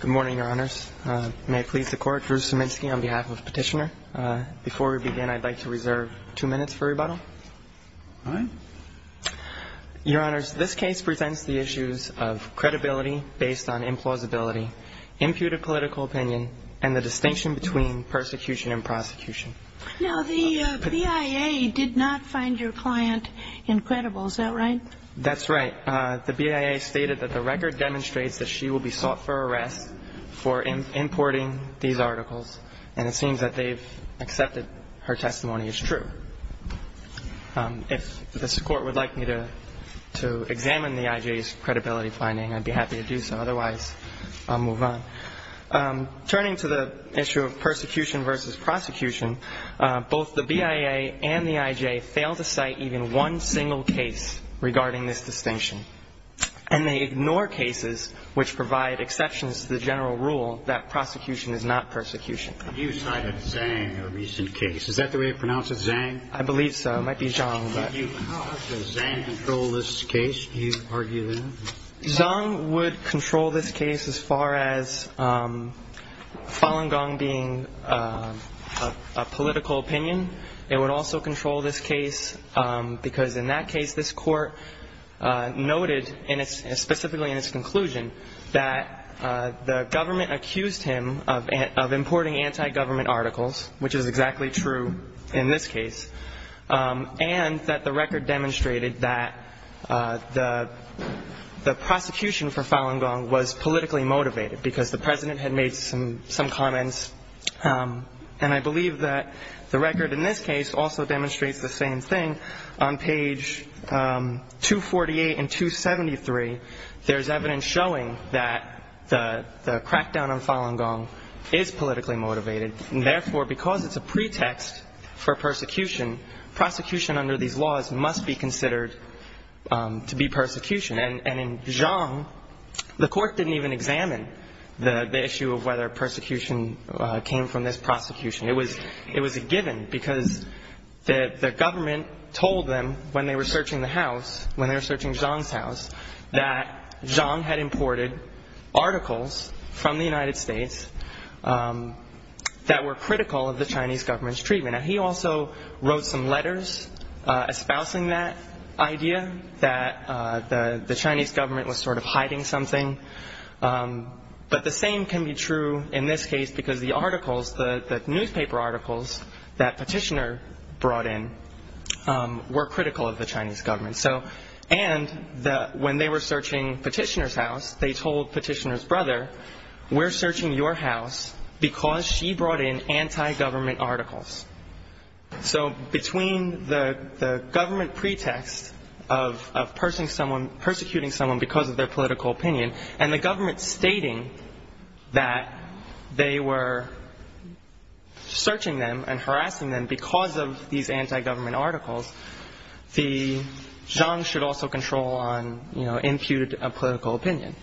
Good morning, Your Honors. May it please the Court, Drew Szyminski on behalf of Petitioner. Before we begin, I'd like to reserve two minutes for rebuttal. All right. Your Honors, this case presents the issues of credibility based on implausibility, imputed political opinion, and the distinction between persecution and prosecution. Now, the BIA did not find your client incredible, is that right? That's right. The BIA stated that the record demonstrates that she will be sought for arrest for importing these articles, and it seems that they've accepted her testimony as true. If this Court would like me to examine the IJ's credibility finding, I'd be happy to do so. Otherwise, I'll move on. Turning to the issue of persecution versus prosecution, both the BIA and the IJ fail to cite even one single case regarding this distinction, and they ignore cases which provide exceptions to the general rule that prosecution is not persecution. You cited Zhang in a recent case. Is that the way to pronounce it, Zhang? I believe so. It might be Zhang. How does Zhang control this case, do you argue, then? Zhang would control this case as far as Falun Gong being a political opinion. It would also control this case because in that case, this Court noted specifically in its conclusion that the government accused him of importing anti-government articles, which is exactly true in this case, and that the record demonstrated that the prosecution for Falun Gong was politically motivated because the President had made some comments, and I believe that the record in this case also demonstrates the same thing. On page 248 and 273, there's evidence showing that the crackdown on Falun Gong is politically motivated, and therefore, because it's a pretext for persecution, prosecution under these laws must be considered to be persecution. And in Zhang, the Court didn't even examine the issue of whether persecution came from this prosecution. It was a given because the government told them when they were searching the house, when they were searching Zhang's house, that Zhang had imported articles from the United States that were critical of the Chinese government's treatment. Now, he also wrote some letters espousing that idea that the Chinese government was sort of hiding something, but the same can be true in this case because the articles, the newspaper articles that Petitioner brought in were critical of the Chinese government. And when they were searching Petitioner's house, they told Petitioner's brother, we're searching your house because she brought in anti-government articles. So between the government pretext of persecuting someone because of their political opinion and the government stating that they were searching them and harassing them because of these anti-government articles, Zhang should also control on, you know, impute a political opinion.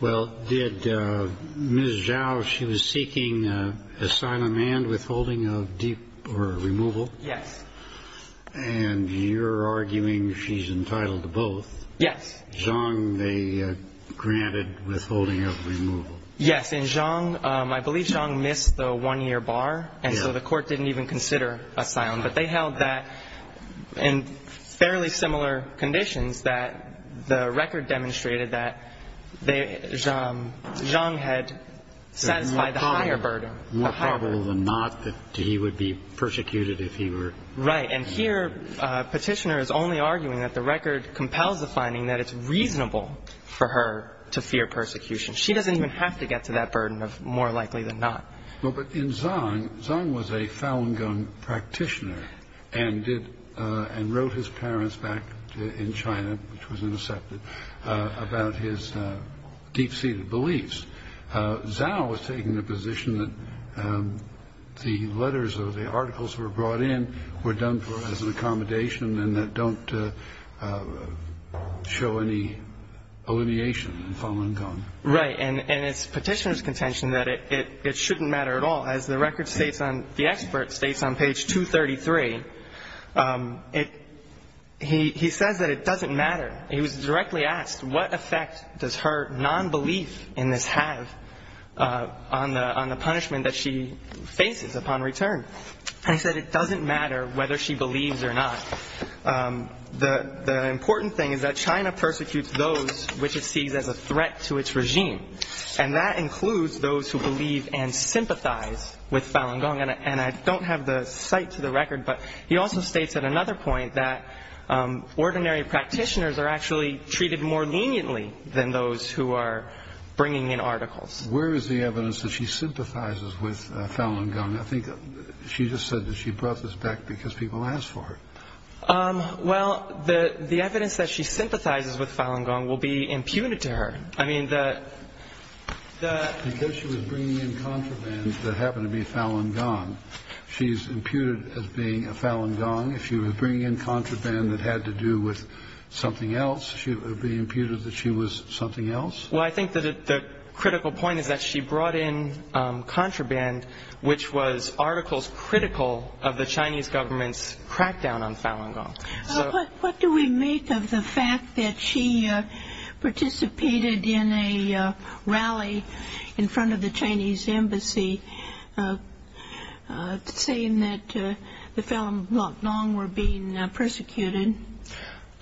Well, did Ms. Zhao, she was seeking asylum and withholding of removal? Yes. And you're arguing she's entitled to both. Yes. Zhang, they granted withholding of removal. Yes. In Zhang, I believe Zhang missed the one-year bar, and so the Court didn't even consider asylum. But they held that in fairly similar conditions that the record demonstrated that Zhang had satisfied the higher burden. More probable than not that he would be persecuted if he were. Right. And here Petitioner is only arguing that the record compels the finding that it's reasonable for her to fear persecution. She doesn't even have to get to that burden of more likely than not. But in Zhang, Zhang was a Falun Gong practitioner and wrote his parents back in China, which was intercepted, about his deep-seated beliefs. Zhao was taking the position that the letters or the articles that were brought in were done as an accommodation and that don't show any alineation in Falun Gong. Right. And it's Petitioner's contention that it shouldn't matter at all. As the record states on – the expert states on page 233, it – he says that it doesn't matter. He was directly asked what effect does her nonbelief in this have on the punishment that she faces upon return. And he said it doesn't matter whether she believes or not. The important thing is that China persecutes those which it sees as a threat to its regime. And that includes those who believe and sympathize with Falun Gong. And I don't have the cite to the record, but he also states at another point that ordinary practitioners are actually treated more leniently than those who are bringing in articles. Where is the evidence that she sympathizes with Falun Gong? I think she just said that she brought this back because people asked for it. Well, the evidence that she sympathizes with Falun Gong will be imputed to her. I mean, the – the – Because she was bringing in contraband that happened to be Falun Gong, she's imputed as being a Falun Gong. If she was bringing in contraband that had to do with something else, she would be imputed that she was something else? Well, I think that the critical point is that she brought in contraband, which was articles critical of the Chinese government's crackdown on Falun Gong. What do we make of the fact that she participated in a rally in front of the Chinese embassy saying that the Falun Gong were being persecuted?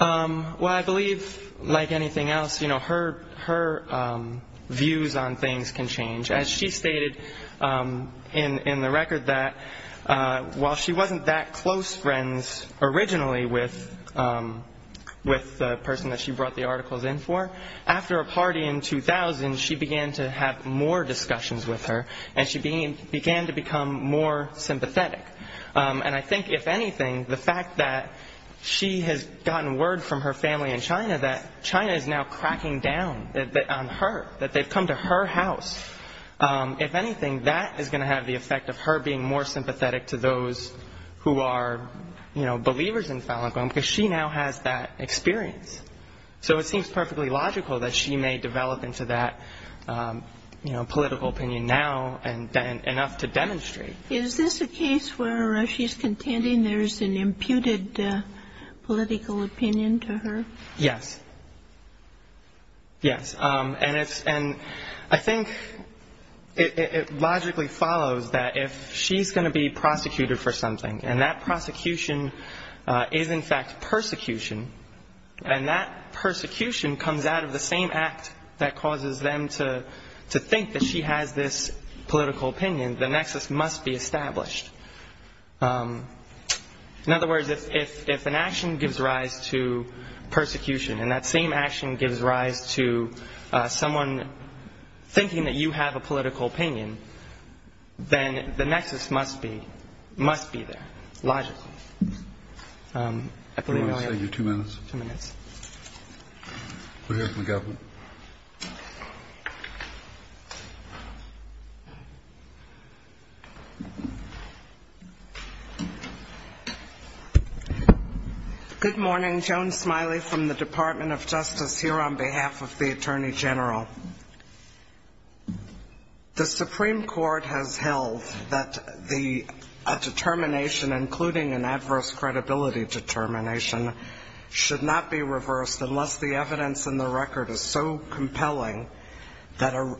Well, I believe, like anything else, her views on things can change. As she stated in the record that while she wasn't that close friends originally with the person that she brought the articles in for, after a party in 2000, she began to have more discussions with her, and she began to become more sympathetic. And I think, if anything, the fact that she has gotten word from her family in China that China is now cracking down on her, that they've come to her house, if anything, that is going to have the effect of her being more sympathetic to those who are, you know, believers in Falun Gong because she now has that experience. So it seems perfectly logical that she may develop into that, you know, political opinion now and enough to demonstrate. Is this a case where she's contending there's an imputed political opinion to her? Yes. Yes. And I think it logically follows that if she's going to be prosecuted for something, and that prosecution is, in fact, persecution, and that persecution comes out of the same act that causes them to think that she has this political opinion, the nexus must be established. In other words, if an action gives rise to persecution and that same action gives rise to someone thinking that you have a political opinion, then the nexus must be there, logically. Thank you. I believe I have two minutes. Two minutes. We'll hear from the government. Good morning. Joan Smiley from the Department of Justice here on behalf of the Attorney General. The Supreme Court has held that a determination, including an adverse credibility determination, should not be reversed unless the evidence in the record is so compelling that a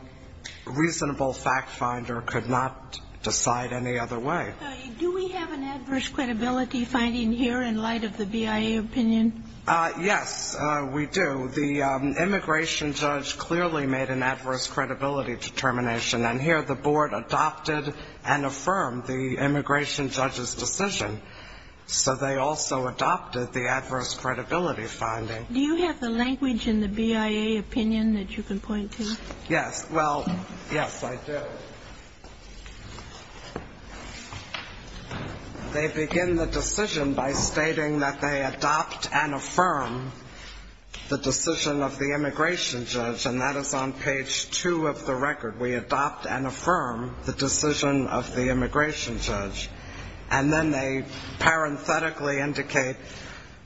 reasonable fact finder could not decide any other way. Do we have an adverse credibility finding here in light of the BIA opinion? Yes, we do. The immigration judge clearly made an adverse credibility determination, and here the board adopted and affirmed the immigration judge's decision, so they also adopted the adverse credibility finding. Do you have the language in the BIA opinion that you can point to? Yes. Well, yes, I do. They begin the decision by stating that they adopt and affirm the decision of the immigration judge, and that is on page two of the record. We adopt and affirm the decision of the immigration judge, and then they parenthetically indicate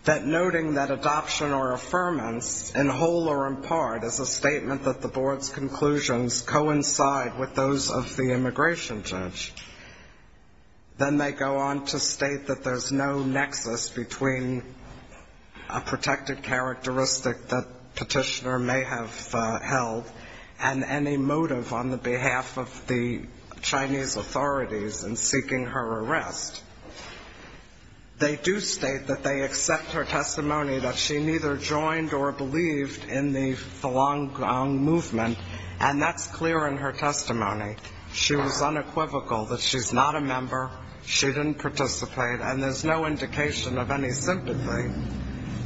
that noting that adoption or affirmance, in whole or in part, is a statement that the board's conclusions coincide with those of the immigration judge. Then they go on to state that there's no nexus between a protected characteristic that Petitioner may have held and any motive on the behalf of the Chinese authorities in seeking her arrest. They do state that they accept her testimony that she neither joined or believed in the Falun Gong movement, and that's clear in her testimony. She was unequivocal that she's not a member, she didn't participate, and there's no indication of any sympathy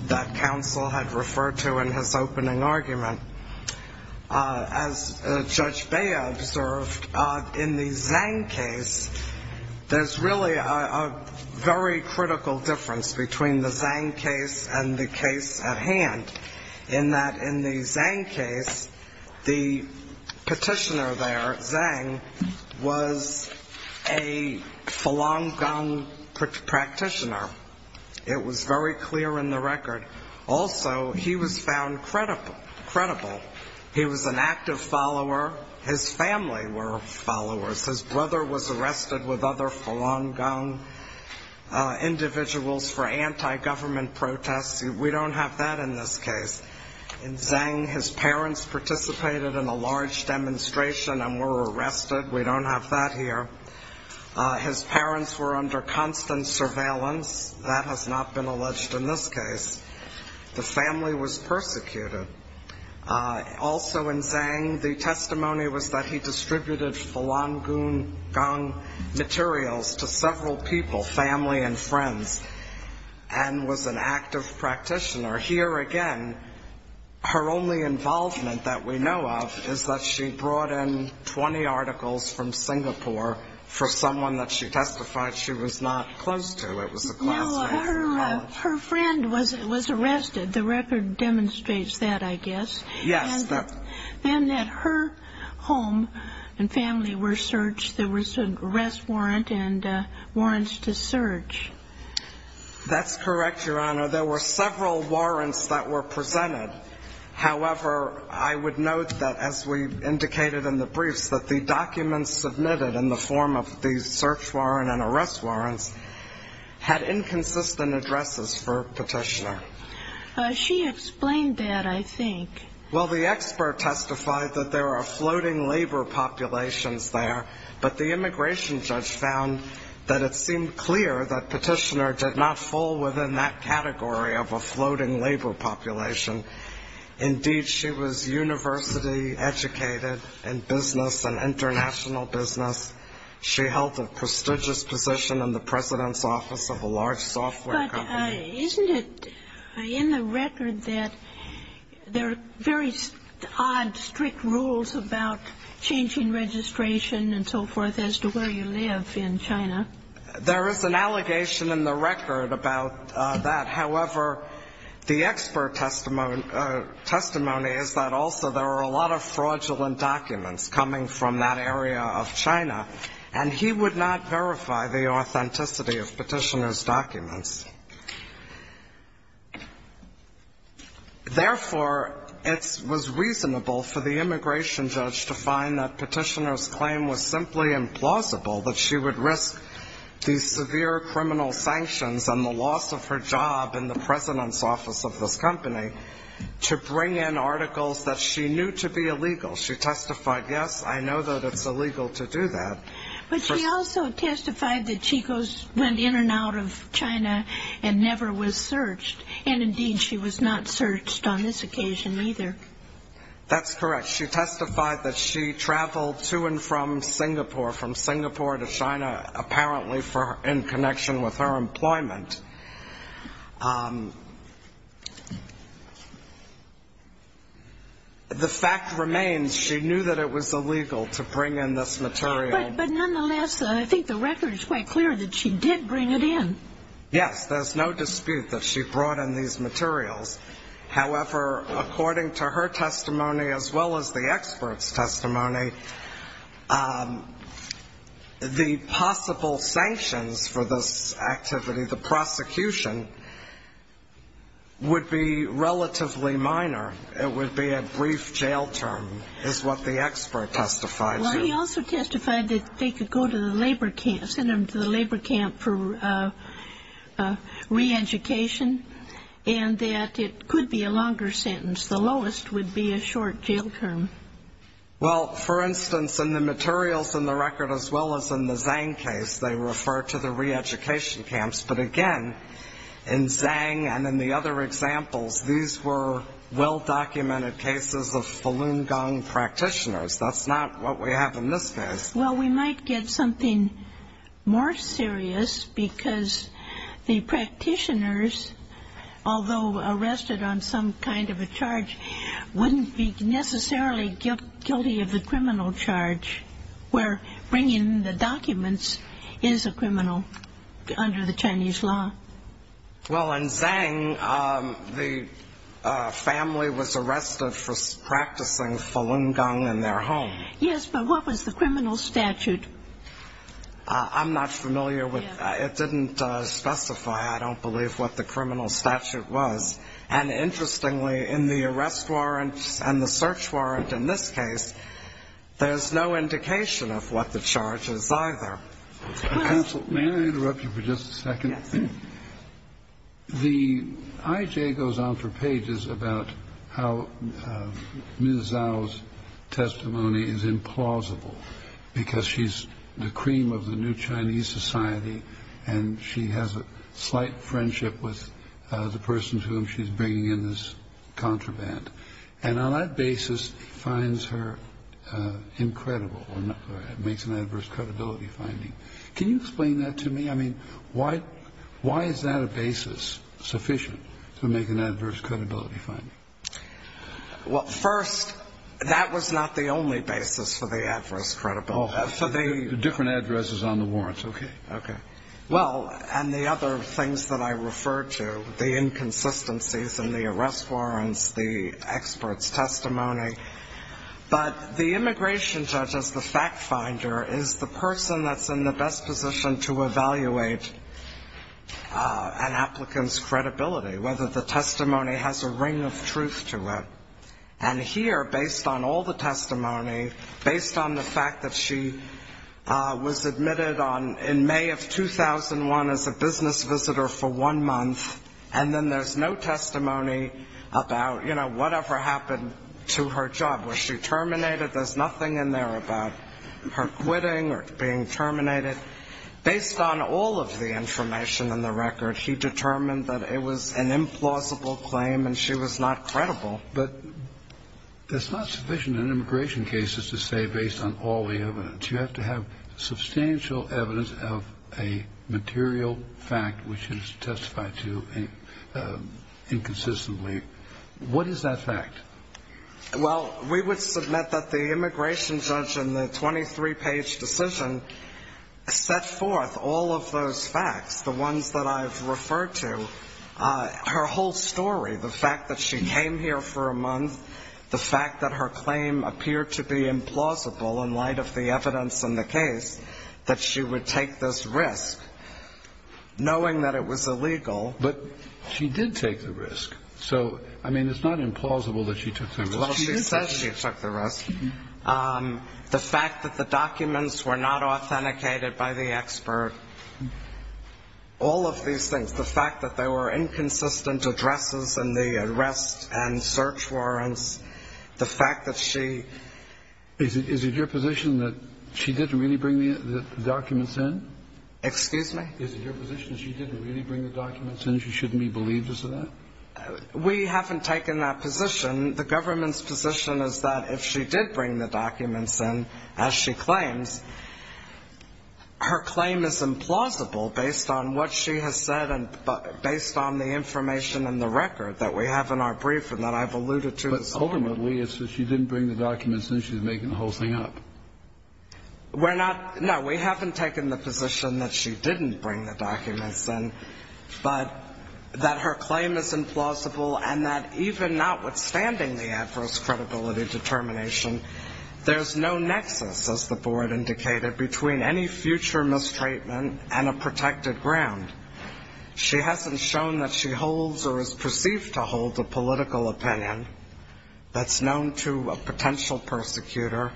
that counsel had referred to in his opening argument. As Judge Bea observed, in the Zhang case, there's really a very critical difference between the Zhang case and the case at hand, in that in the Zhang case, the Petitioner there, Zhang, was a Falun Gong practitioner. It was very clear in the record. Also, he was found credible. He was an active follower. His family were followers. His brother was arrested with other Falun Gong individuals for anti-government protests. We don't have that in this case. In Zhang, his parents participated in a large demonstration and were arrested. We don't have that here. His parents were under constant surveillance. That has not been alleged in this case. The family was persecuted. Also in Zhang, the testimony was that he distributed Falun Gong materials to several people, family and friends, and was an active practitioner. Here again, her only involvement that we know of is that she brought in 20 articles from Singapore for someone that she testified she was not close to. It was a classmate. No, her friend was arrested. The record demonstrates that, I guess. Yes. Then at her home and family were searched. There was an arrest warrant and warrants to search. There were several warrants that were presented. However, I would note that, as we indicated in the briefs, that the documents submitted in the form of the search warrant and arrest warrants had inconsistent addresses for Petitioner. She explained that, I think. Well, the expert testified that there are floating labor populations there, but the immigration judge found that it seemed clear that Petitioner did not fall within that category of a floating labor population. Indeed, she was university educated in business and international business. She held a prestigious position in the president's office of a large software company. But isn't it in the record that there are very odd, strict rules about changing registration and so forth as to where you live in China? There is an allegation in the record about that. However, the expert testimony is that also there are a lot of fraudulent documents coming from that area of China, and he would not verify the authenticity of Petitioner's documents. Therefore, it was reasonable for the immigration judge to find that Petitioner's claim was simply implausible, that she would risk the severe criminal sanctions and the loss of her job in the president's office of this company to bring in articles that she knew to be illegal. She testified, yes, I know that it's illegal to do that. But she also testified that she went in and out of China and never was searched, and indeed she was not searched on this occasion either. That's correct. She testified that she traveled to and from Singapore, from Singapore to China, apparently in connection with her employment. The fact remains she knew that it was illegal to bring in this material. But nonetheless, I think the record is quite clear that she did bring it in. Yes, there's no dispute that she brought in these materials. However, according to her testimony, as well as the expert's testimony, the possible sanctions for this activity, the prosecution, would be relatively minor. It would be a brief jail term, is what the expert testified to. Well, he also testified that they could go to the labor camp, send them to the labor camp for reeducation, and that it could be a longer sentence. The lowest would be a short jail term. Well, for instance, in the materials in the record, as well as in the Zhang case, they refer to the reeducation camps. But again, in Zhang and in the other examples, these were well-documented cases of Falun Gong practitioners. That's not what we have in this case. Well, we might get something more serious because the practitioners, although arrested on some kind of a charge, wouldn't be necessarily guilty of the criminal charge, where bringing the documents is a criminal under the Chinese law. Well, in Zhang, the family was arrested for practicing Falun Gong in their home. Yes, but what was the criminal statute? I'm not familiar with that. It didn't specify, I don't believe, what the criminal statute was. And interestingly, in the arrest warrant and the search warrant in this case, there's no indication of what the charge is either. Counsel, may I interrupt you for just a second? Yes. The IJ goes on for pages about how Ms. Zhao's testimony is implausible because she's the cream of the new Chinese society and she has a slight friendship with the person to whom she's bringing in this contraband, and on that basis finds her incredible or makes an adverse credibility finding. Can you explain that to me? I mean, why is that a basis sufficient to make an adverse credibility finding? Well, first, that was not the only basis for the adverse credibility. Oh, the different addresses on the warrants, okay. Okay. Well, and the other things that I referred to, the inconsistencies in the arrest warrants, the expert's testimony. But the immigration judge as the fact finder is the person that's in the best position to evaluate an applicant's credibility, whether the testimony has a ring of truth to it. And here, based on all the testimony, based on the fact that she was admitted in May of 2001 as a business visitor for one month, and then there's no testimony about, you know, whatever happened to her job. Was she terminated? There's nothing in there about her quitting or being terminated. Based on all of the information in the record, he determined that it was an implausible claim and she was not credible. But that's not sufficient in immigration cases to say based on all the evidence. But you have to have substantial evidence of a material fact which is testified to inconsistently. What is that fact? Well, we would submit that the immigration judge in the 23-page decision set forth all of those facts, the ones that I've referred to, her whole story, the fact that she came here for a month, the fact that her claim appeared to be implausible in light of the evidence in the case, that she would take this risk, knowing that it was illegal. But she did take the risk. So, I mean, it's not implausible that she took the risk. Well, she says she took the risk. The fact that the documents were not authenticated by the expert, all of these things, the fact that there were inconsistent addresses in the arrest and search warrants, the fact that she... Is it your position that she didn't really bring the documents in? Excuse me? Is it your position that she didn't really bring the documents in, she shouldn't be believed as to that? We haven't taken that position. The government's position is that if she did bring the documents in, as she claims, her claim is implausible based on what she has said and based on the information in the record that we have in our brief and that I've alluded to. But ultimately, it's that she didn't bring the documents in. She's making the whole thing up. We're not... No, we haven't taken the position that she didn't bring the documents in, but that her claim is implausible and that even notwithstanding the adverse credibility determination, there's no nexus, as the board indicated, between any future mistreatment and a protected ground. She hasn't shown that she holds or is perceived to hold a political opinion that's known to a potential persecutor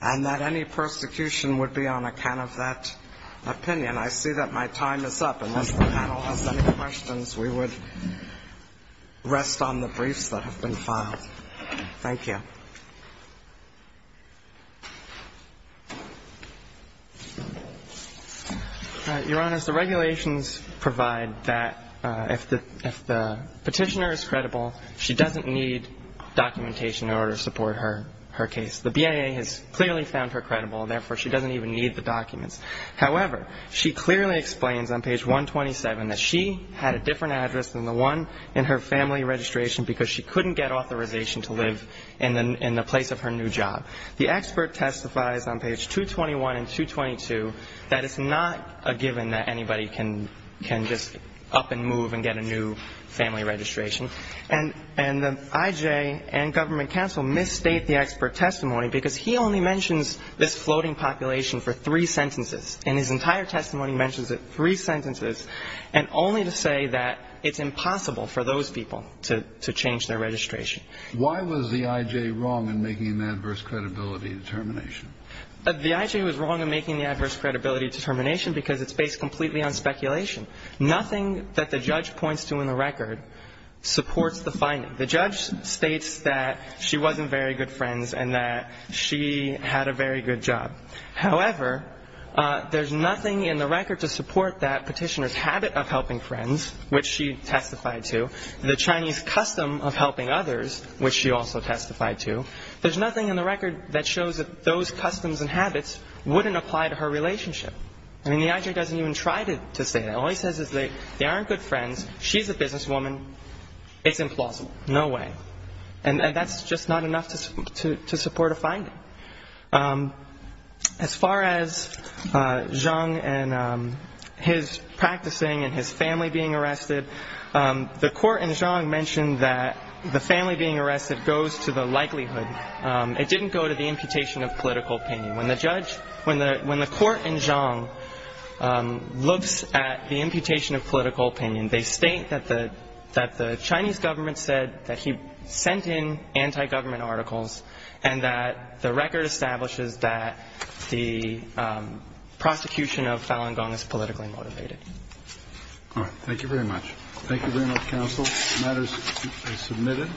and that any persecution would be on account of that opinion. I see that my time is up. Unless the panel has any questions, we would rest on the briefs that have been filed. Thank you. Your Honor, the regulations provide that if the petitioner is credible, she doesn't need documentation in order to support her case. The BIA has clearly found her credible, and therefore, she doesn't even need the documents. However, she clearly explains on page 127 that she had a different address than the one in her family registration because she couldn't get authorization to live in the place of her new job. The expert testifies on page 221 and 222 that it's not a given that anybody can just up and move and get a new family registration. And the I.J. and government counsel misstate the expert testimony because he only mentions this floating population for three sentences, and his entire testimony mentions it three sentences, and only to say that it's impossible for those people to change their registration. Why was the I.J. wrong in making the adverse credibility determination? The I.J. was wrong in making the adverse credibility determination because it's based completely on speculation. Nothing that the judge points to in the record supports the finding. The judge states that she wasn't very good friends and that she had a very good job. However, there's nothing in the record to support that petitioner's habit of helping friends, which she testified to, the Chinese custom of helping others, which she also testified to. There's nothing in the record that shows that those customs and habits wouldn't apply to her relationship. I mean, the I.J. doesn't even try to say that. All he says is they aren't good friends, she's a businesswoman, it's implausible. No way. And that's just not enough to support a finding. As far as Zhang and his practicing and his family being arrested, the court in Zhang mentioned that the family being arrested goes to the likelihood. It didn't go to the imputation of political opinion. When the court in Zhang looks at the imputation of political opinion, they state that the Chinese government said that he sent in anti-government articles and that the record establishes that the prosecution of Falun Gong is politically motivated. All right. Thank you very much. Thank you very much, counsel. The matter is submitted.